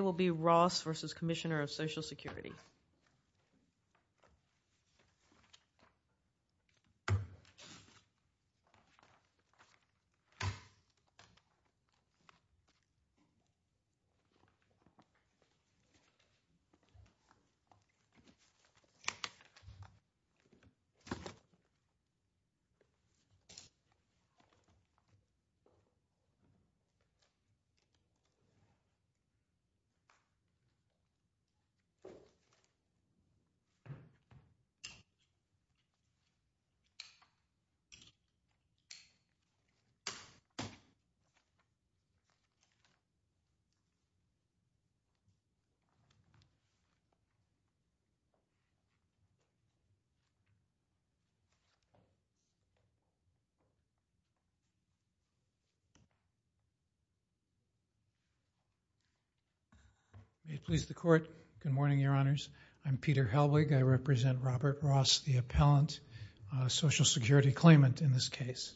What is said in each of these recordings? will be Ross v. Commissioner of Social Security. May it please the Court. Good morning, Your Honors. I'm Peter Helwig. I represent Robert Ross, the appellant, Social Security claimant in this case.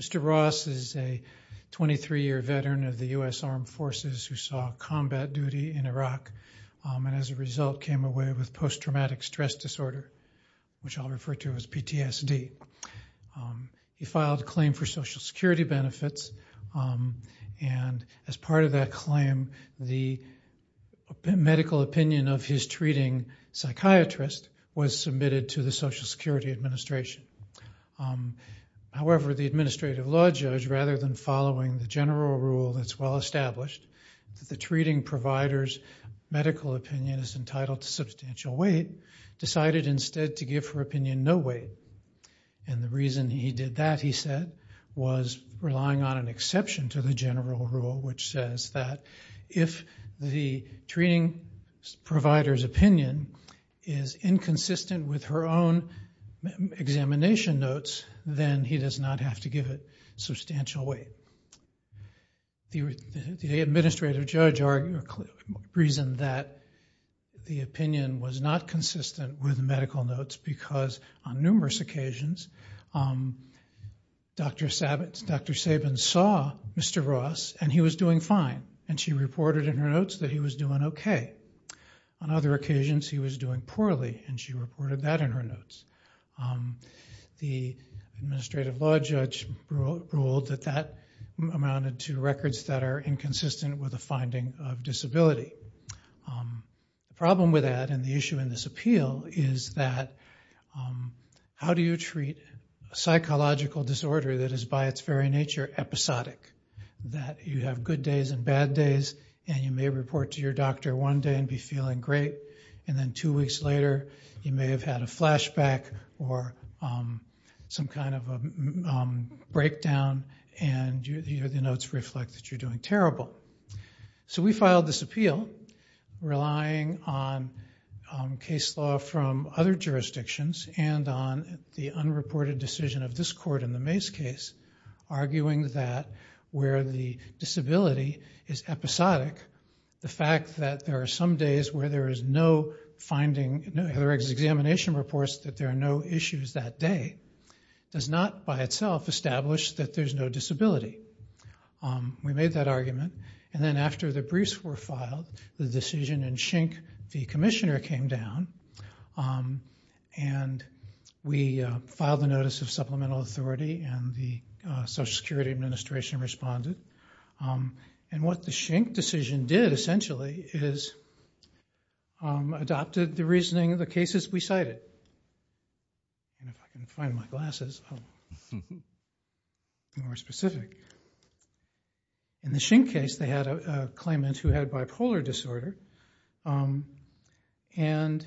Mr. Ross is a 23-year veteran of the U.S. Armed Forces who saw combat duty in Iraq and as a result came away with post-traumatic stress disorder, which I'll refer to as PTSD. He filed a claim for Social Security benefits and as part of that claim, the medical opinion of his treating psychiatrist was submitted to the Social Security Administration. However, the administrative law judge, rather than following the general rule that's well established, the treating provider's medical opinion is entitled to substantial weight, decided instead to give her opinion no weight. And the reason he did that, he said, was relying on an exception to the general rule, which says that if the treating provider's opinion is inconsistent with her own examination notes, then he does not have to give it substantial weight. The administrative judge reasoned that the opinion was not consistent with medical notes because on numerous occasions, Dr. Sabin saw Mr. Ross and he was doing fine and she reported in her notes that he was doing okay. On other occasions, he was doing poorly and she reported that in her notes. The administrative law judge ruled that that amounted to records that are inconsistent with a finding of disability. The problem with that and the issue in this appeal is that how do you treat a psychological disorder that is by its very nature episodic? That you have good days and bad days and you may report to your doctor one day and be feeling great and then two weeks later, you may have had a flashback or some kind of a breakdown and the notes reflect that you're doing terrible. So we filed this appeal relying on case law from other jurisdictions and on the unreported decision of this court in the Mace case, arguing that where the disability is episodic, the fact that there are some days where there is no examination reports that there are no issues that day does not by itself establish that there's no disability. We made that argument and then after the briefs were filed, the decision in Schenck v. Commissioner came down and we filed a notice of supplemental authority and the Social Security Administration responded. What the Schenck decision did essentially is adopted the reasoning of the cases we cited. If I can find my glasses, I'll be more specific. In the Schenck case, they had a claimant who had bipolar disorder and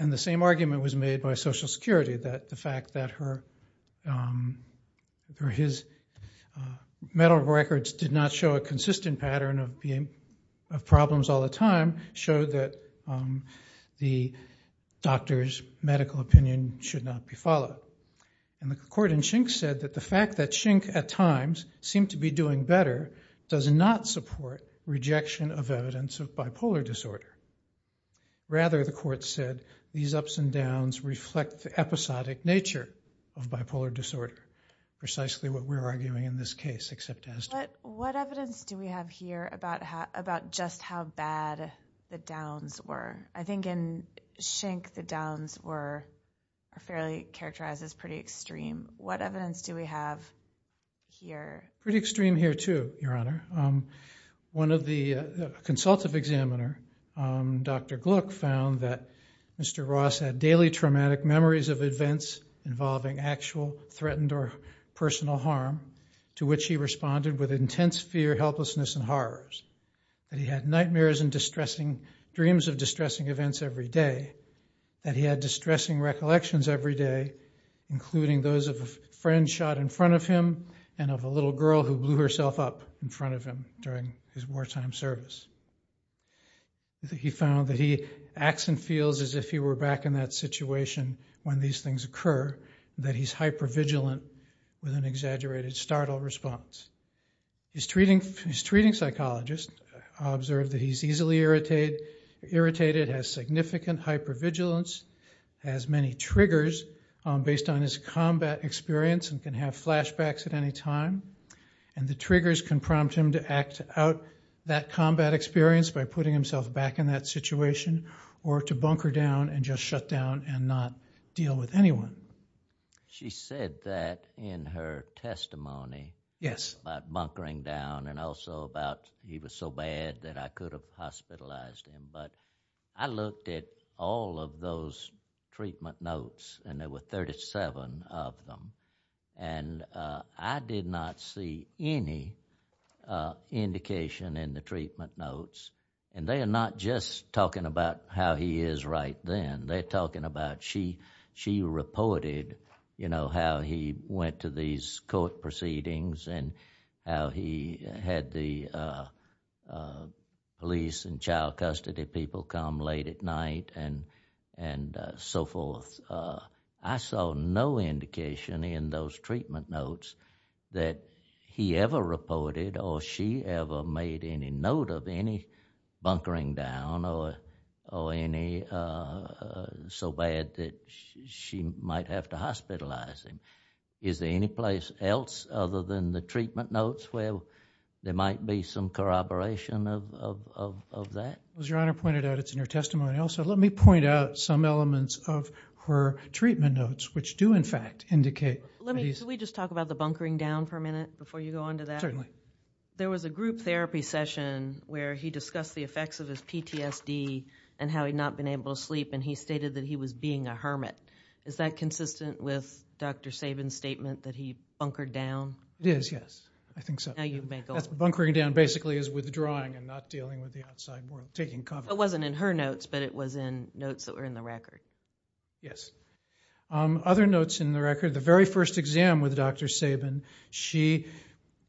the same argument was made by Social Security that the fact that her or his medical records did not show a consistent pattern of problems all the time showed that the doctor's medical opinion should not be followed. The court in Schenck said that the fact that Schenck at times seemed to be doing better does not support rejection of evidence of bipolar disorder. Rather, the court said these ups and downs reflect the episodic nature of bipolar disorder, precisely what we're arguing in this case except as to what evidence do we have here about just how bad the downs were. I think in Schenck, the downs were fairly characterized as pretty extreme. What evidence do we have here? Pretty extreme here too, Your Honor. One of the consultative examiner, Dr. Gluck, found that Mr. Ross had daily traumatic memories of events involving actual threatened or personal harm to which he responded with intense fear, helplessness, and horrors. That he had nightmares and dreams of distressing events every day. That he had distressing recollections every day, including those of a friend shot in front of him and of a little girl who blew herself up in front of him during his wartime service. He found that he acts and feels as if he were back in that situation when these things occur, that he's hypervigilant with an exaggerated startle response. His treating psychologist observed that he's easily irritated, has significant hypervigilance, has many triggers based on his combat experience and can have flashbacks at any time. And the triggers can prompt him to act out that combat experience by putting himself back in that situation or to bunker down and just shut down and not deal with anyone. She said that in her testimony. Yes. About bunkering down and also about he was so bad that I could have hospitalized him. But I looked at all of those treatment notes and there were 37 of them. And I did not see any indication in the treatment notes. And they are not just talking about how he is right then. They're talking about she reported, you know, how he went to these court proceedings and how he had the police and child custody people come late at night and so forth. I saw no indication in those treatment notes that he ever reported or she ever made any note of any bunkering down or any so bad that she might have to hospitalize him. Is there any place else other than the treatment notes where there might be some corroboration of that? As Your Honor pointed out, it's in your testimony also. But let me point out some elements of her treatment notes which do in fact indicate. Can we just talk about the bunkering down for a minute before you go on to that? Certainly. There was a group therapy session where he discussed the effects of his PTSD and how he had not been able to sleep and he stated that he was being a hermit. Is that consistent with Dr. Sabin's statement that he bunkered down? It is, yes. I think so. Now you may go on. Bunkering down basically is withdrawing and not dealing with the outside world, taking cover. It wasn't in her notes but it was in notes that were in the record. Yes. Other notes in the record, the very first exam with Dr. Sabin, she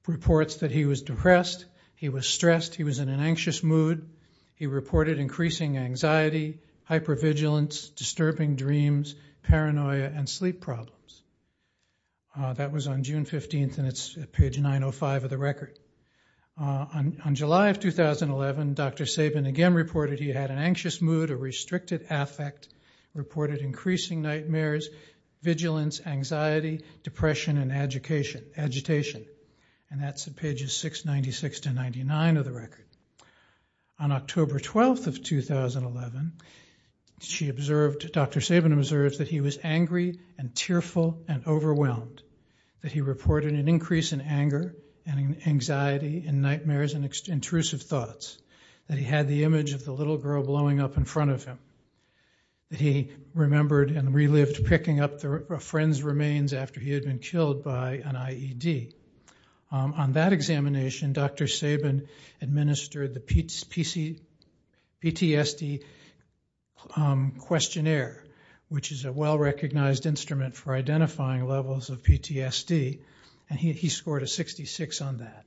reports that he was depressed, he was stressed, he was in an anxious mood. He reported increasing anxiety, hypervigilance, disturbing dreams, paranoia, and sleep problems. That was on June 15th and it's page 905 of the record. On July of 2011, Dr. Sabin again reported he had an anxious mood, a restricted affect, reported increasing nightmares, vigilance, anxiety, depression, and agitation. That's on pages 696 to 99 of the record. On October 12th of 2011, she observed, Dr. Sabin observed that he was angry and tearful and overwhelmed. That he reported an increase in anger and anxiety and nightmares and intrusive thoughts. That he had the image of the little girl blowing up in front of him. That he remembered and relived picking up a friend's remains after he had been killed by an IED. On that examination, Dr. Sabin administered the PTSD questionnaire, which is a well-recognized instrument for identifying levels of PTSD. He scored a 66 on that.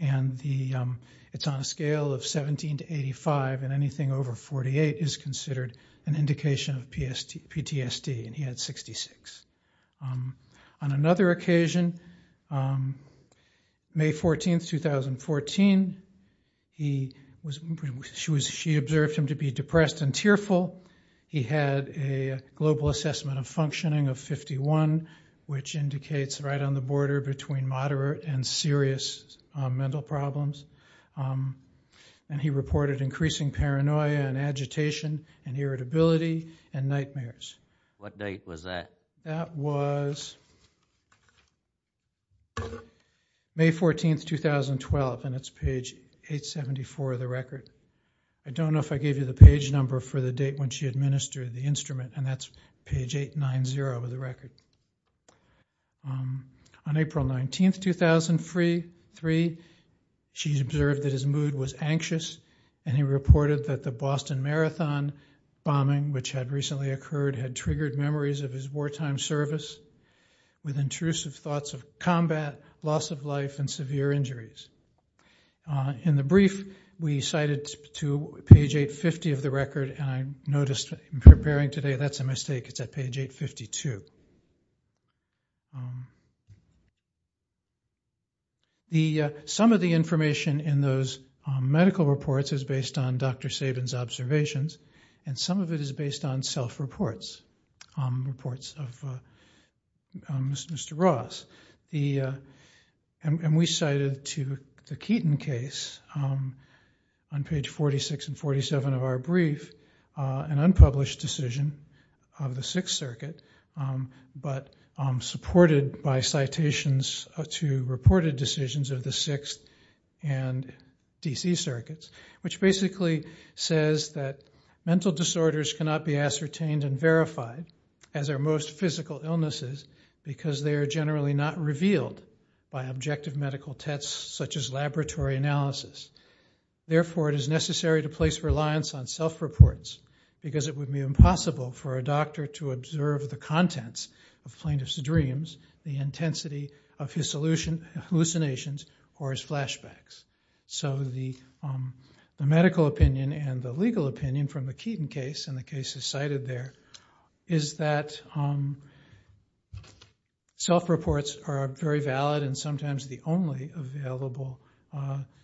It's on a scale of 17 to 85 and anything over 48 is considered an indication of PTSD. He had 66. On another occasion, May 14th, 2014, she observed him to be depressed and tearful. He had a global assessment of functioning of 51, which indicates right on the border between moderate and serious mental problems. And he reported increasing paranoia and agitation and irritability and nightmares. What date was that? That was May 14th, 2012 and it's page 874 of the record. I don't know if I gave you the page number for the date when she administered the instrument and that's page 890 of the record. On April 19th, 2003, she observed that his mood was anxious and he reported that the Boston Marathon bombing, which had recently occurred, had triggered memories of his wartime service with intrusive thoughts of combat, loss of life, and severe injuries. In the brief, we cited to page 850 of the record and I noticed in preparing today, that's a mistake, it's at page 852. Some of the information in those medical reports is based on Dr. Sabin's observations and some of it is based on self-reports, reports of Mr. Ross. And we cited to the Keaton case on page 46 and 47 of our brief, an unpublished decision of the Sixth Circuit, but supported by citations to reported decisions of the Sixth and D.C. Circuits, which basically says that mental disorders cannot be ascertained and verified as our most physical illnesses because they are generally not revealed by objective medical tests such as laboratory analysis. Therefore, it is necessary to place reliance on self-reports because it would be impossible for a doctor to observe the contents of plaintiff's dreams, the intensity of his hallucinations, or his flashbacks. So the medical opinion and the legal opinion from the Keaton case, and the cases cited there, is that self-reports are very valid and sometimes the only available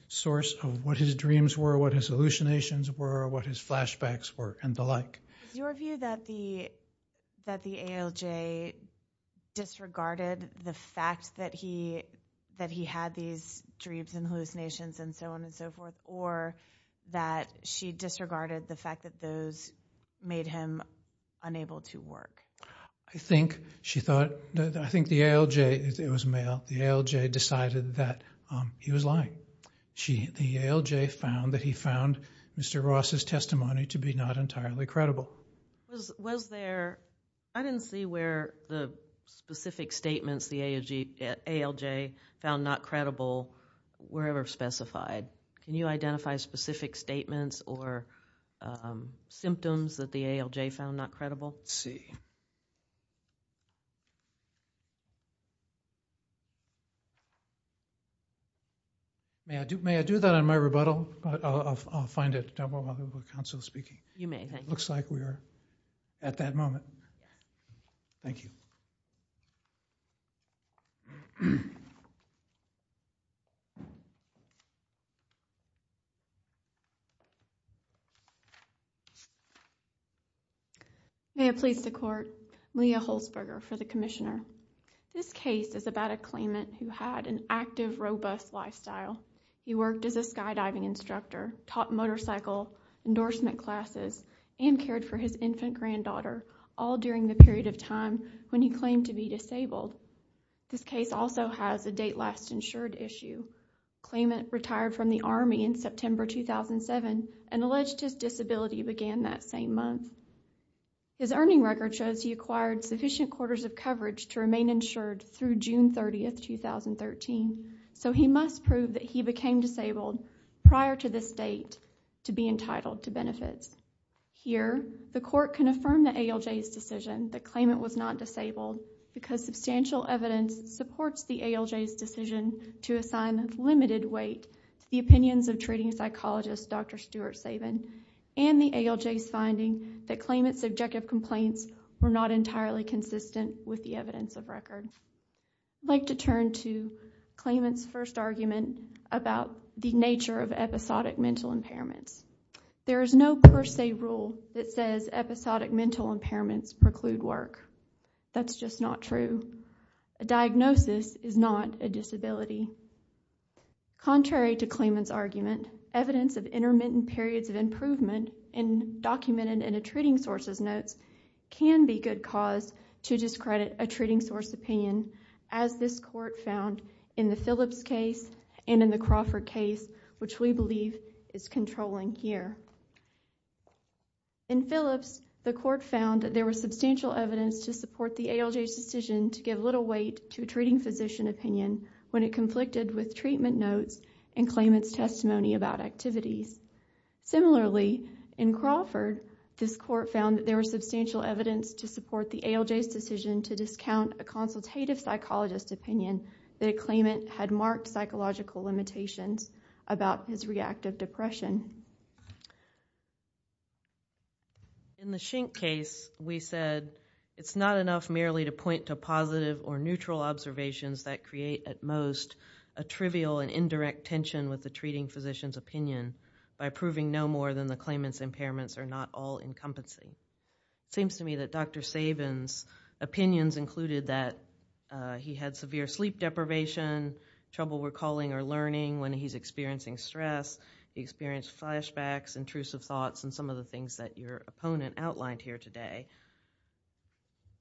source of what his dreams were, what his hallucinations were, what his flashbacks were, and the like. Is your view that the ALJ disregarded the fact that he had these dreams and hallucinations and so on and so forth, or that she disregarded the fact that those made him unable to work? I think she thought, I think the ALJ, it was male, the ALJ decided that he was lying. The ALJ found that he found Mr. Ross' testimony to be not entirely credible. Was there, I didn't see where the specific statements the ALJ found not credible were ever specified. Can you identify specific statements or symptoms that the ALJ found not credible? Let's see. May I do that on my rebuttal? I'll find it while the council is speaking. You may. Looks like we are at that moment. Thank you. May it please the court, Leah Holzberger for the commissioner. This case is about a claimant who had an active, robust lifestyle. He worked as a skydiving instructor, taught motorcycle endorsement classes, and cared for his infant granddaughter all during the period of time when he claimed to be disabled. This case also has a date last insured issue. The claimant retired from the Army in September 2007 and alleged his disability began that same month. His earning record shows he acquired sufficient quarters of coverage to remain insured through June 30, 2013. He must prove that he became disabled prior to this date to be entitled to benefits. Here, the court can affirm the ALJ's decision that claimant was not disabled because substantial evidence supports the ALJ's decision to assign limited weight to the opinions of treating psychologist Dr. Stuart Sabin and the ALJ's finding that claimant's subjective complaints were not entirely consistent with the evidence of record. I'd like to turn to claimant's first argument about the nature of episodic mental impairments. There is no per se rule that says episodic mental impairments preclude work. That's just not true. A diagnosis is not a disability. Contrary to claimant's argument, evidence of intermittent periods of improvement and documented in a treating source's notes can be good cause to discredit a treating source's opinion as this court found in the Phillips case and in the Crawford case, which we believe is controlling here. In Phillips, the court found that there was substantial evidence to support the ALJ's decision to give little weight to a treating physician opinion when it conflicted with treatment notes and claimant's testimony about activities. Similarly, in Crawford, this court found that there was substantial evidence to support the ALJ's decision to discount a consultative psychologist opinion that a claimant had marked psychological limitations about his reactive depression. In the Schink case, we said it's not enough merely to point to positive or neutral observations that create at most a trivial and indirect tension with the treating physician's opinion. By proving no more than the claimant's impairments are not all-encompassing. It seems to me that Dr. Sabin's opinions included that he had severe sleep deprivation, trouble recalling or learning when he's experiencing stress, he experienced flashbacks, intrusive thoughts, and some of the things that your opponent outlined here today.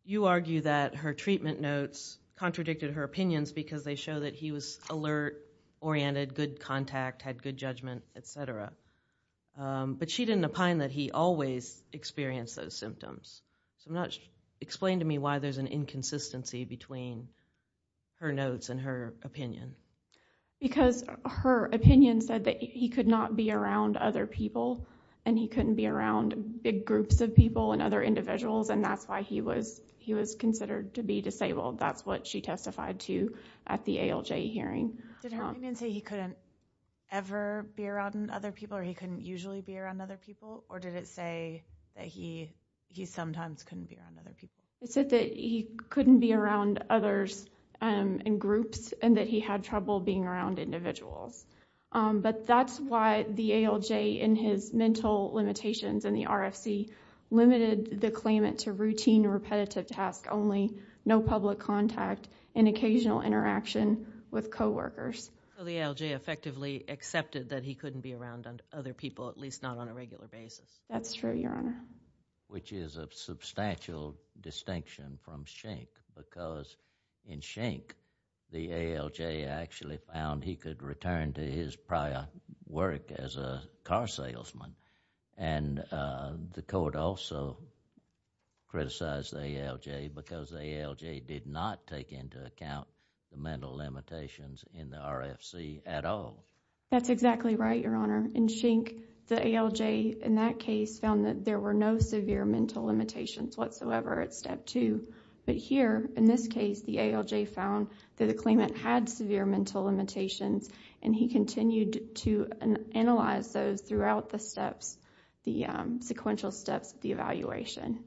You argue that her treatment notes contradicted her opinions because they show that he was alert, oriented, good contact, had good judgment, etc. But she didn't opine that he always experienced those symptoms. Explain to me why there's an inconsistency between her notes and her opinion. Because her opinion said that he could not be around other people and he couldn't be around big groups of people and other individuals and that's why he was considered to be disabled. That's what she testified to at the ALJ hearing. Did her opinion say he couldn't ever be around other people or he couldn't usually be around other people? Or did it say that he sometimes couldn't be around other people? It said that he couldn't be around others in groups and that he had trouble being around individuals. But that's why the ALJ, in his mental limitations in the RFC, limited the claimant to routine, repetitive tasks only, no public contact, and occasional interaction with coworkers. So the ALJ effectively accepted that he couldn't be around other people, at least not on a regular basis. That's true, Your Honor. Which is a substantial distinction from Schenck because in Schenck, the ALJ actually found he could return to his prior work as a car salesman. And the court also criticized the ALJ because the ALJ did not take into account the mental limitations in the RFC at all. That's exactly right, Your Honor. In Schenck, the ALJ, in that case, found that there were no severe mental limitations whatsoever at Step 2. But here, in this case, the ALJ found that the claimant had severe mental limitations and he continued to analyze those throughout the steps, the sequential steps of the evaluation.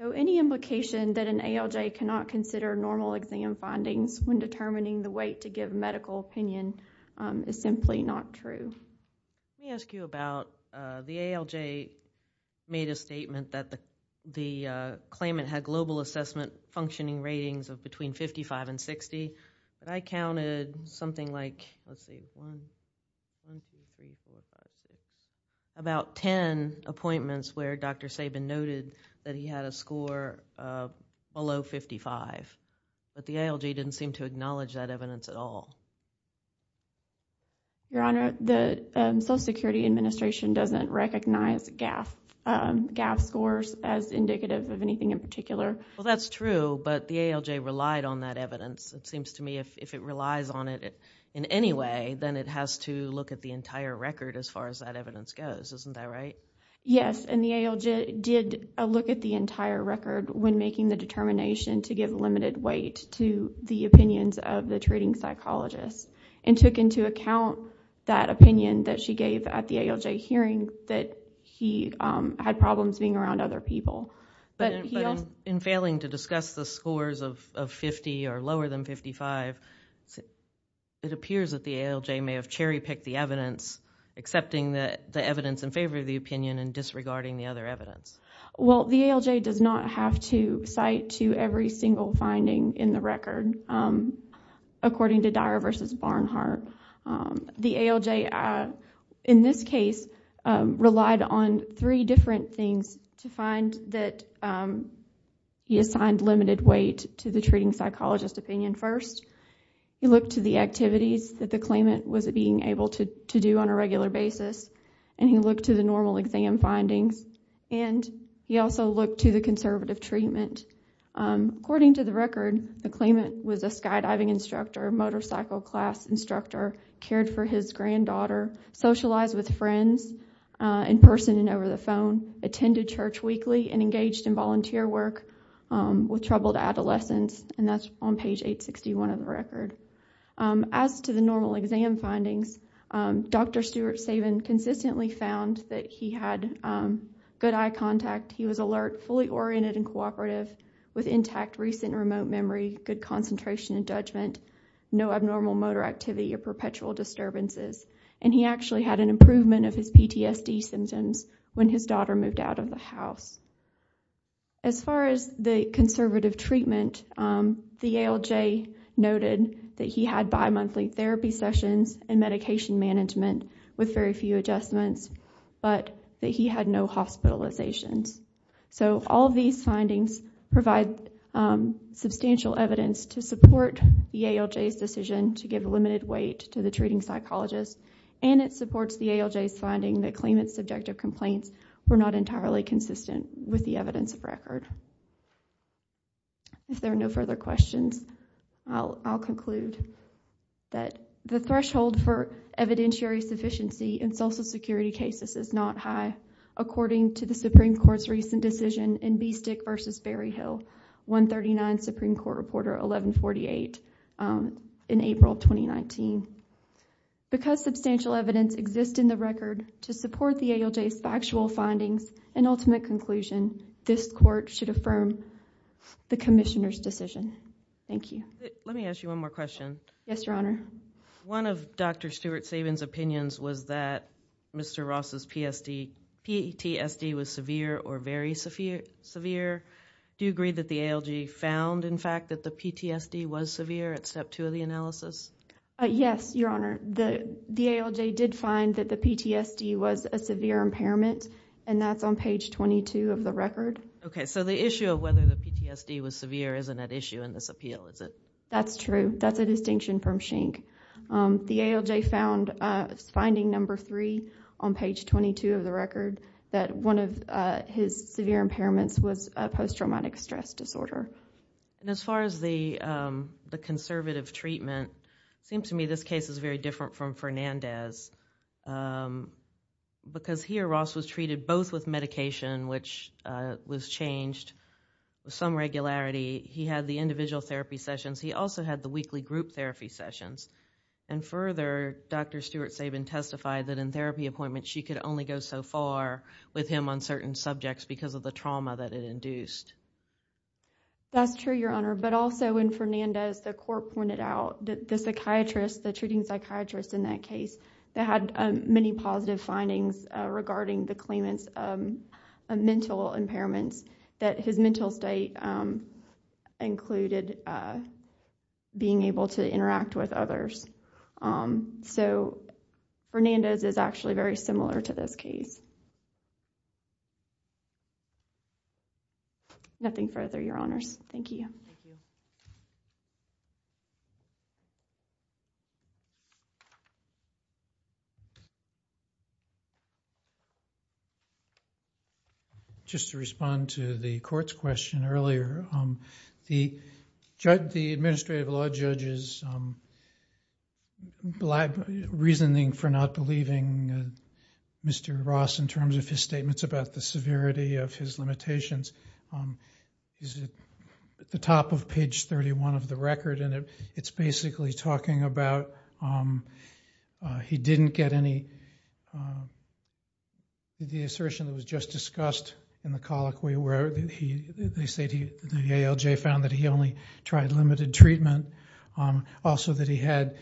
So any implication that an ALJ cannot consider normal exam findings when determining the weight to give medical opinion is simply not true. Let me ask you about the ALJ made a statement that the claimant had global assessment functioning ratings of between 55 and 60. But I counted something like, let's see, 1, 2, 3, 4, 5, 6, about 10 appointments where Dr. Sabin noted that he had a score below 55. But the ALJ didn't seem to acknowledge that evidence at all. Your Honor, the Social Security Administration doesn't recognize GAF scores as indicative of anything in particular. Well, that's true, but the ALJ relied on that evidence. It seems to me if it relies on it in any way, then it has to look at the entire record as far as that evidence goes. Isn't that right? Yes, and the ALJ did look at the entire record when making the determination to give limited weight to the opinions of the treating psychologist and took into account that opinion that she gave at the ALJ hearing that he had problems being around other people. But in failing to discuss the scores of 50 or lower than 55, it appears that the ALJ may have cherry-picked the evidence, accepting the evidence in favor of the opinion and disregarding the other evidence. Well, the ALJ does not have to cite to every single finding in the record, according to Dyer v. Barnhart. The ALJ, in this case, relied on three different things to find that he assigned limited weight to the treating psychologist opinion first. He looked to the activities that the claimant was being able to do on a regular basis, and he looked to the normal exam findings, and he also looked to the conservative treatment. According to the record, the claimant was a skydiving instructor, motorcycle class instructor, cared for his granddaughter, socialized with friends in person and over the phone, attended church weekly, and engaged in volunteer work with troubled adolescents, and that's on page 861 of the record. As to the normal exam findings, Dr. Stuart Sabin consistently found that he had good eye contact, he was alert, fully oriented and cooperative, with intact recent remote memory, good concentration and judgment, no abnormal motor activity or perpetual disturbances, and he actually had an improvement of his PTSD symptoms when his daughter moved out of the house. As far as the conservative treatment, the ALJ noted that he had bimonthly therapy sessions and medication management with very few adjustments, but that he had no hospitalizations. So all of these findings provide substantial evidence to support the ALJ's decision to give a limited weight to the treating psychologist, and it supports the ALJ's finding that claimant's subjective complaints were not entirely consistent with the evidence of record. If there are no further questions, I'll conclude that the threshold for evidentiary sufficiency in social security cases is not high, according to the Supreme Court's recent decision in Beestick v. Berryhill, 139 Supreme Court Reporter 1148 in April 2019. Because substantial evidence exists in the record to support the ALJ's factual findings and ultimate conclusion, this court should affirm the commissioner's decision. Thank you. Let me ask you one more question. Yes, Your Honor. One of Dr. Stewart-Saban's opinions was that Mr. Ross's PTSD was severe or very severe. Do you agree that the ALJ found, in fact, that the PTSD was severe at step 2 of the analysis? Yes, Your Honor. The ALJ did find that the PTSD was a severe impairment, and that's on page 22 of the record. Okay, so the issue of whether the PTSD was severe isn't at issue in this appeal, is it? That's true. That's a distinction from Schenck. The ALJ found finding number 3 on page 22 of the record that one of his severe impairments was a post-traumatic stress disorder. As far as the conservative treatment, it seems to me this case is very different from Fernandez's because here Ross was treated both with medication, which was changed with some regularity. He had the individual therapy sessions. He also had the weekly group therapy sessions. And further, Dr. Stewart-Saban testified that in therapy appointments she could only go so far with him on certain subjects because of the trauma that it induced. That's true, Your Honor, but also in Fernandez, the court pointed out that the psychiatrist, the treating psychiatrist in that case, had many positive findings regarding the claimant's mental impairments that his mental state included being able to interact with others. So Fernandez is actually very similar to this case. Nothing further, Your Honors. Thank you. Thank you. Thank you. Just to respond to the court's question earlier, the administrative law judge's reasoning for not believing Mr. Ross in terms of his statements about the severity of his limitations is at the top of page 31 of the record, and it's basically talking about he didn't get any, the assertion that was just discussed in the colloquy where they say the ALJ found that he only tried limited treatment. Also that he had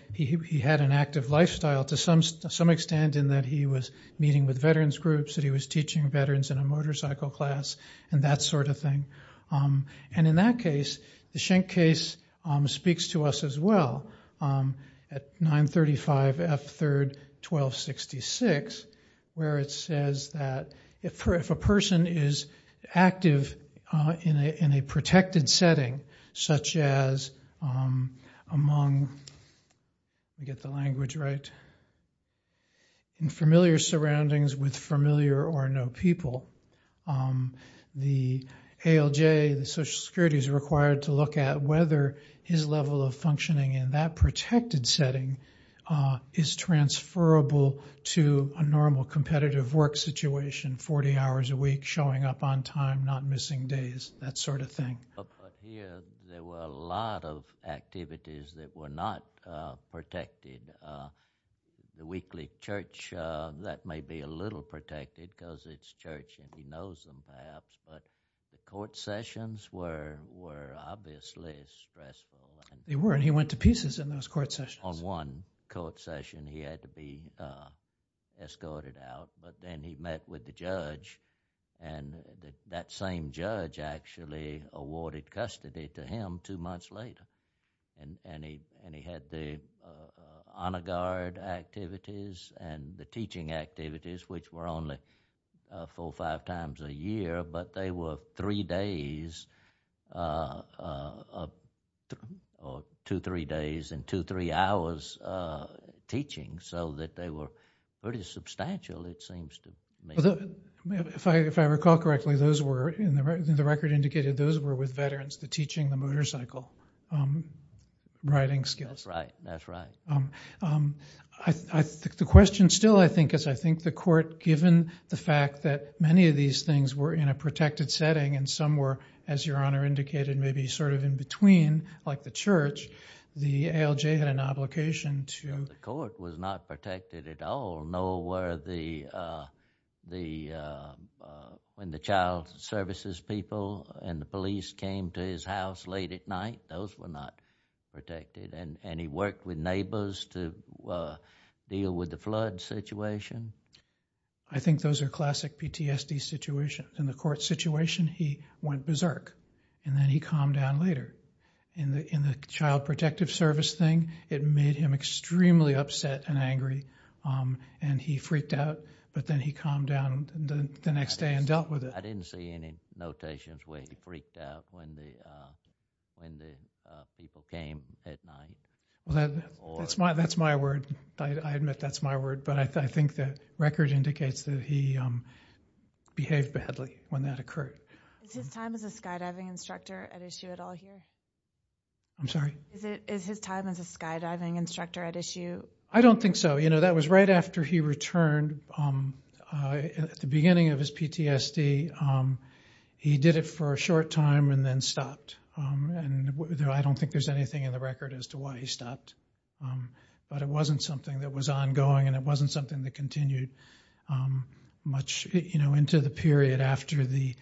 an active lifestyle to some extent in that he was meeting with veterans groups, that he was teaching veterans in a motorcycle class, and that sort of thing. And in that case, the Schenck case speaks to us as well at 935 F. 3rd 1266, where it says that if a person is active in a protected setting, such as among, let me get the language right, in familiar surroundings with familiar or no people, the ALJ, the Social Security, is required to look at whether his level of functioning in that protected setting is transferable to a normal competitive work situation, 40 hours a week, showing up on time, not missing days, that sort of thing. Here, there were a lot of activities that were not protected. The weekly church, that may be a little protected because it's church and he knows them perhaps, but the court sessions were obviously stressful. They were, and he went to pieces in those court sessions. On one court session, he had to be escorted out, but then he met with the judge, and that same judge actually awarded custody to him two months later. And he had the honor guard activities and the teaching activities, which were only four or five times a year, but they were three days or two, three days and two, three hours teaching, so that they were pretty substantial, it seems to me. If I recall correctly, those were, and the record indicated those were with veterans, the teaching, the motorcycle riding skills. That's right, that's right. The question still, I think, is, I think the court, given the fact that many of these things were in a protected setting and some were, as your honor indicated, maybe sort of in between, like the church, the ALJ had an obligation to... The court was not protected at all, nor were the, when the child services people and the police came to his house late at night, those were not protected. And he worked with neighbors to deal with the flood situation. I think those are classic PTSD situations. In the court situation, he went berserk, and then he calmed down later. In the child protective service thing, it made him extremely upset and angry, and he freaked out, but then he calmed down the next day and dealt with it. I didn't see any notations where he freaked out when the people came at night. Well, that's my word. I admit that's my word, but I think the record indicates that he behaved badly when that occurred. Is his time as a skydiving instructor at issue at all here? I'm sorry? Is his time as a skydiving instructor at issue? I don't think so. You know, that was right after he returned. At the beginning of his PTSD, he did it for a short time and then stopped, and I don't think there's anything in the record as to why he stopped. But it wasn't something that was ongoing, and it wasn't something that continued much into the period after the,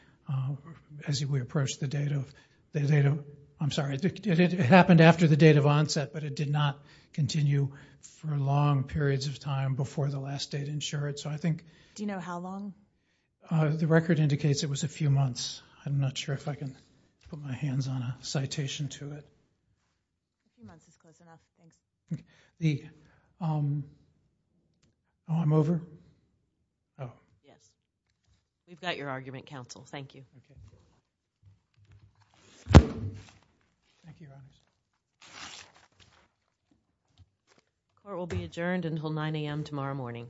as we approach the date of, I'm sorry, it happened after the date of onset, but it did not continue for long periods of time before the last date ensured. Do you know how long? The record indicates it was a few months. I'm not sure if I can put my hands on a citation to it. Oh, I'm over? Oh. Yes. We've got your argument, counsel. Thank you. Court will be adjourned until 9 a.m. tomorrow morning. Thank you.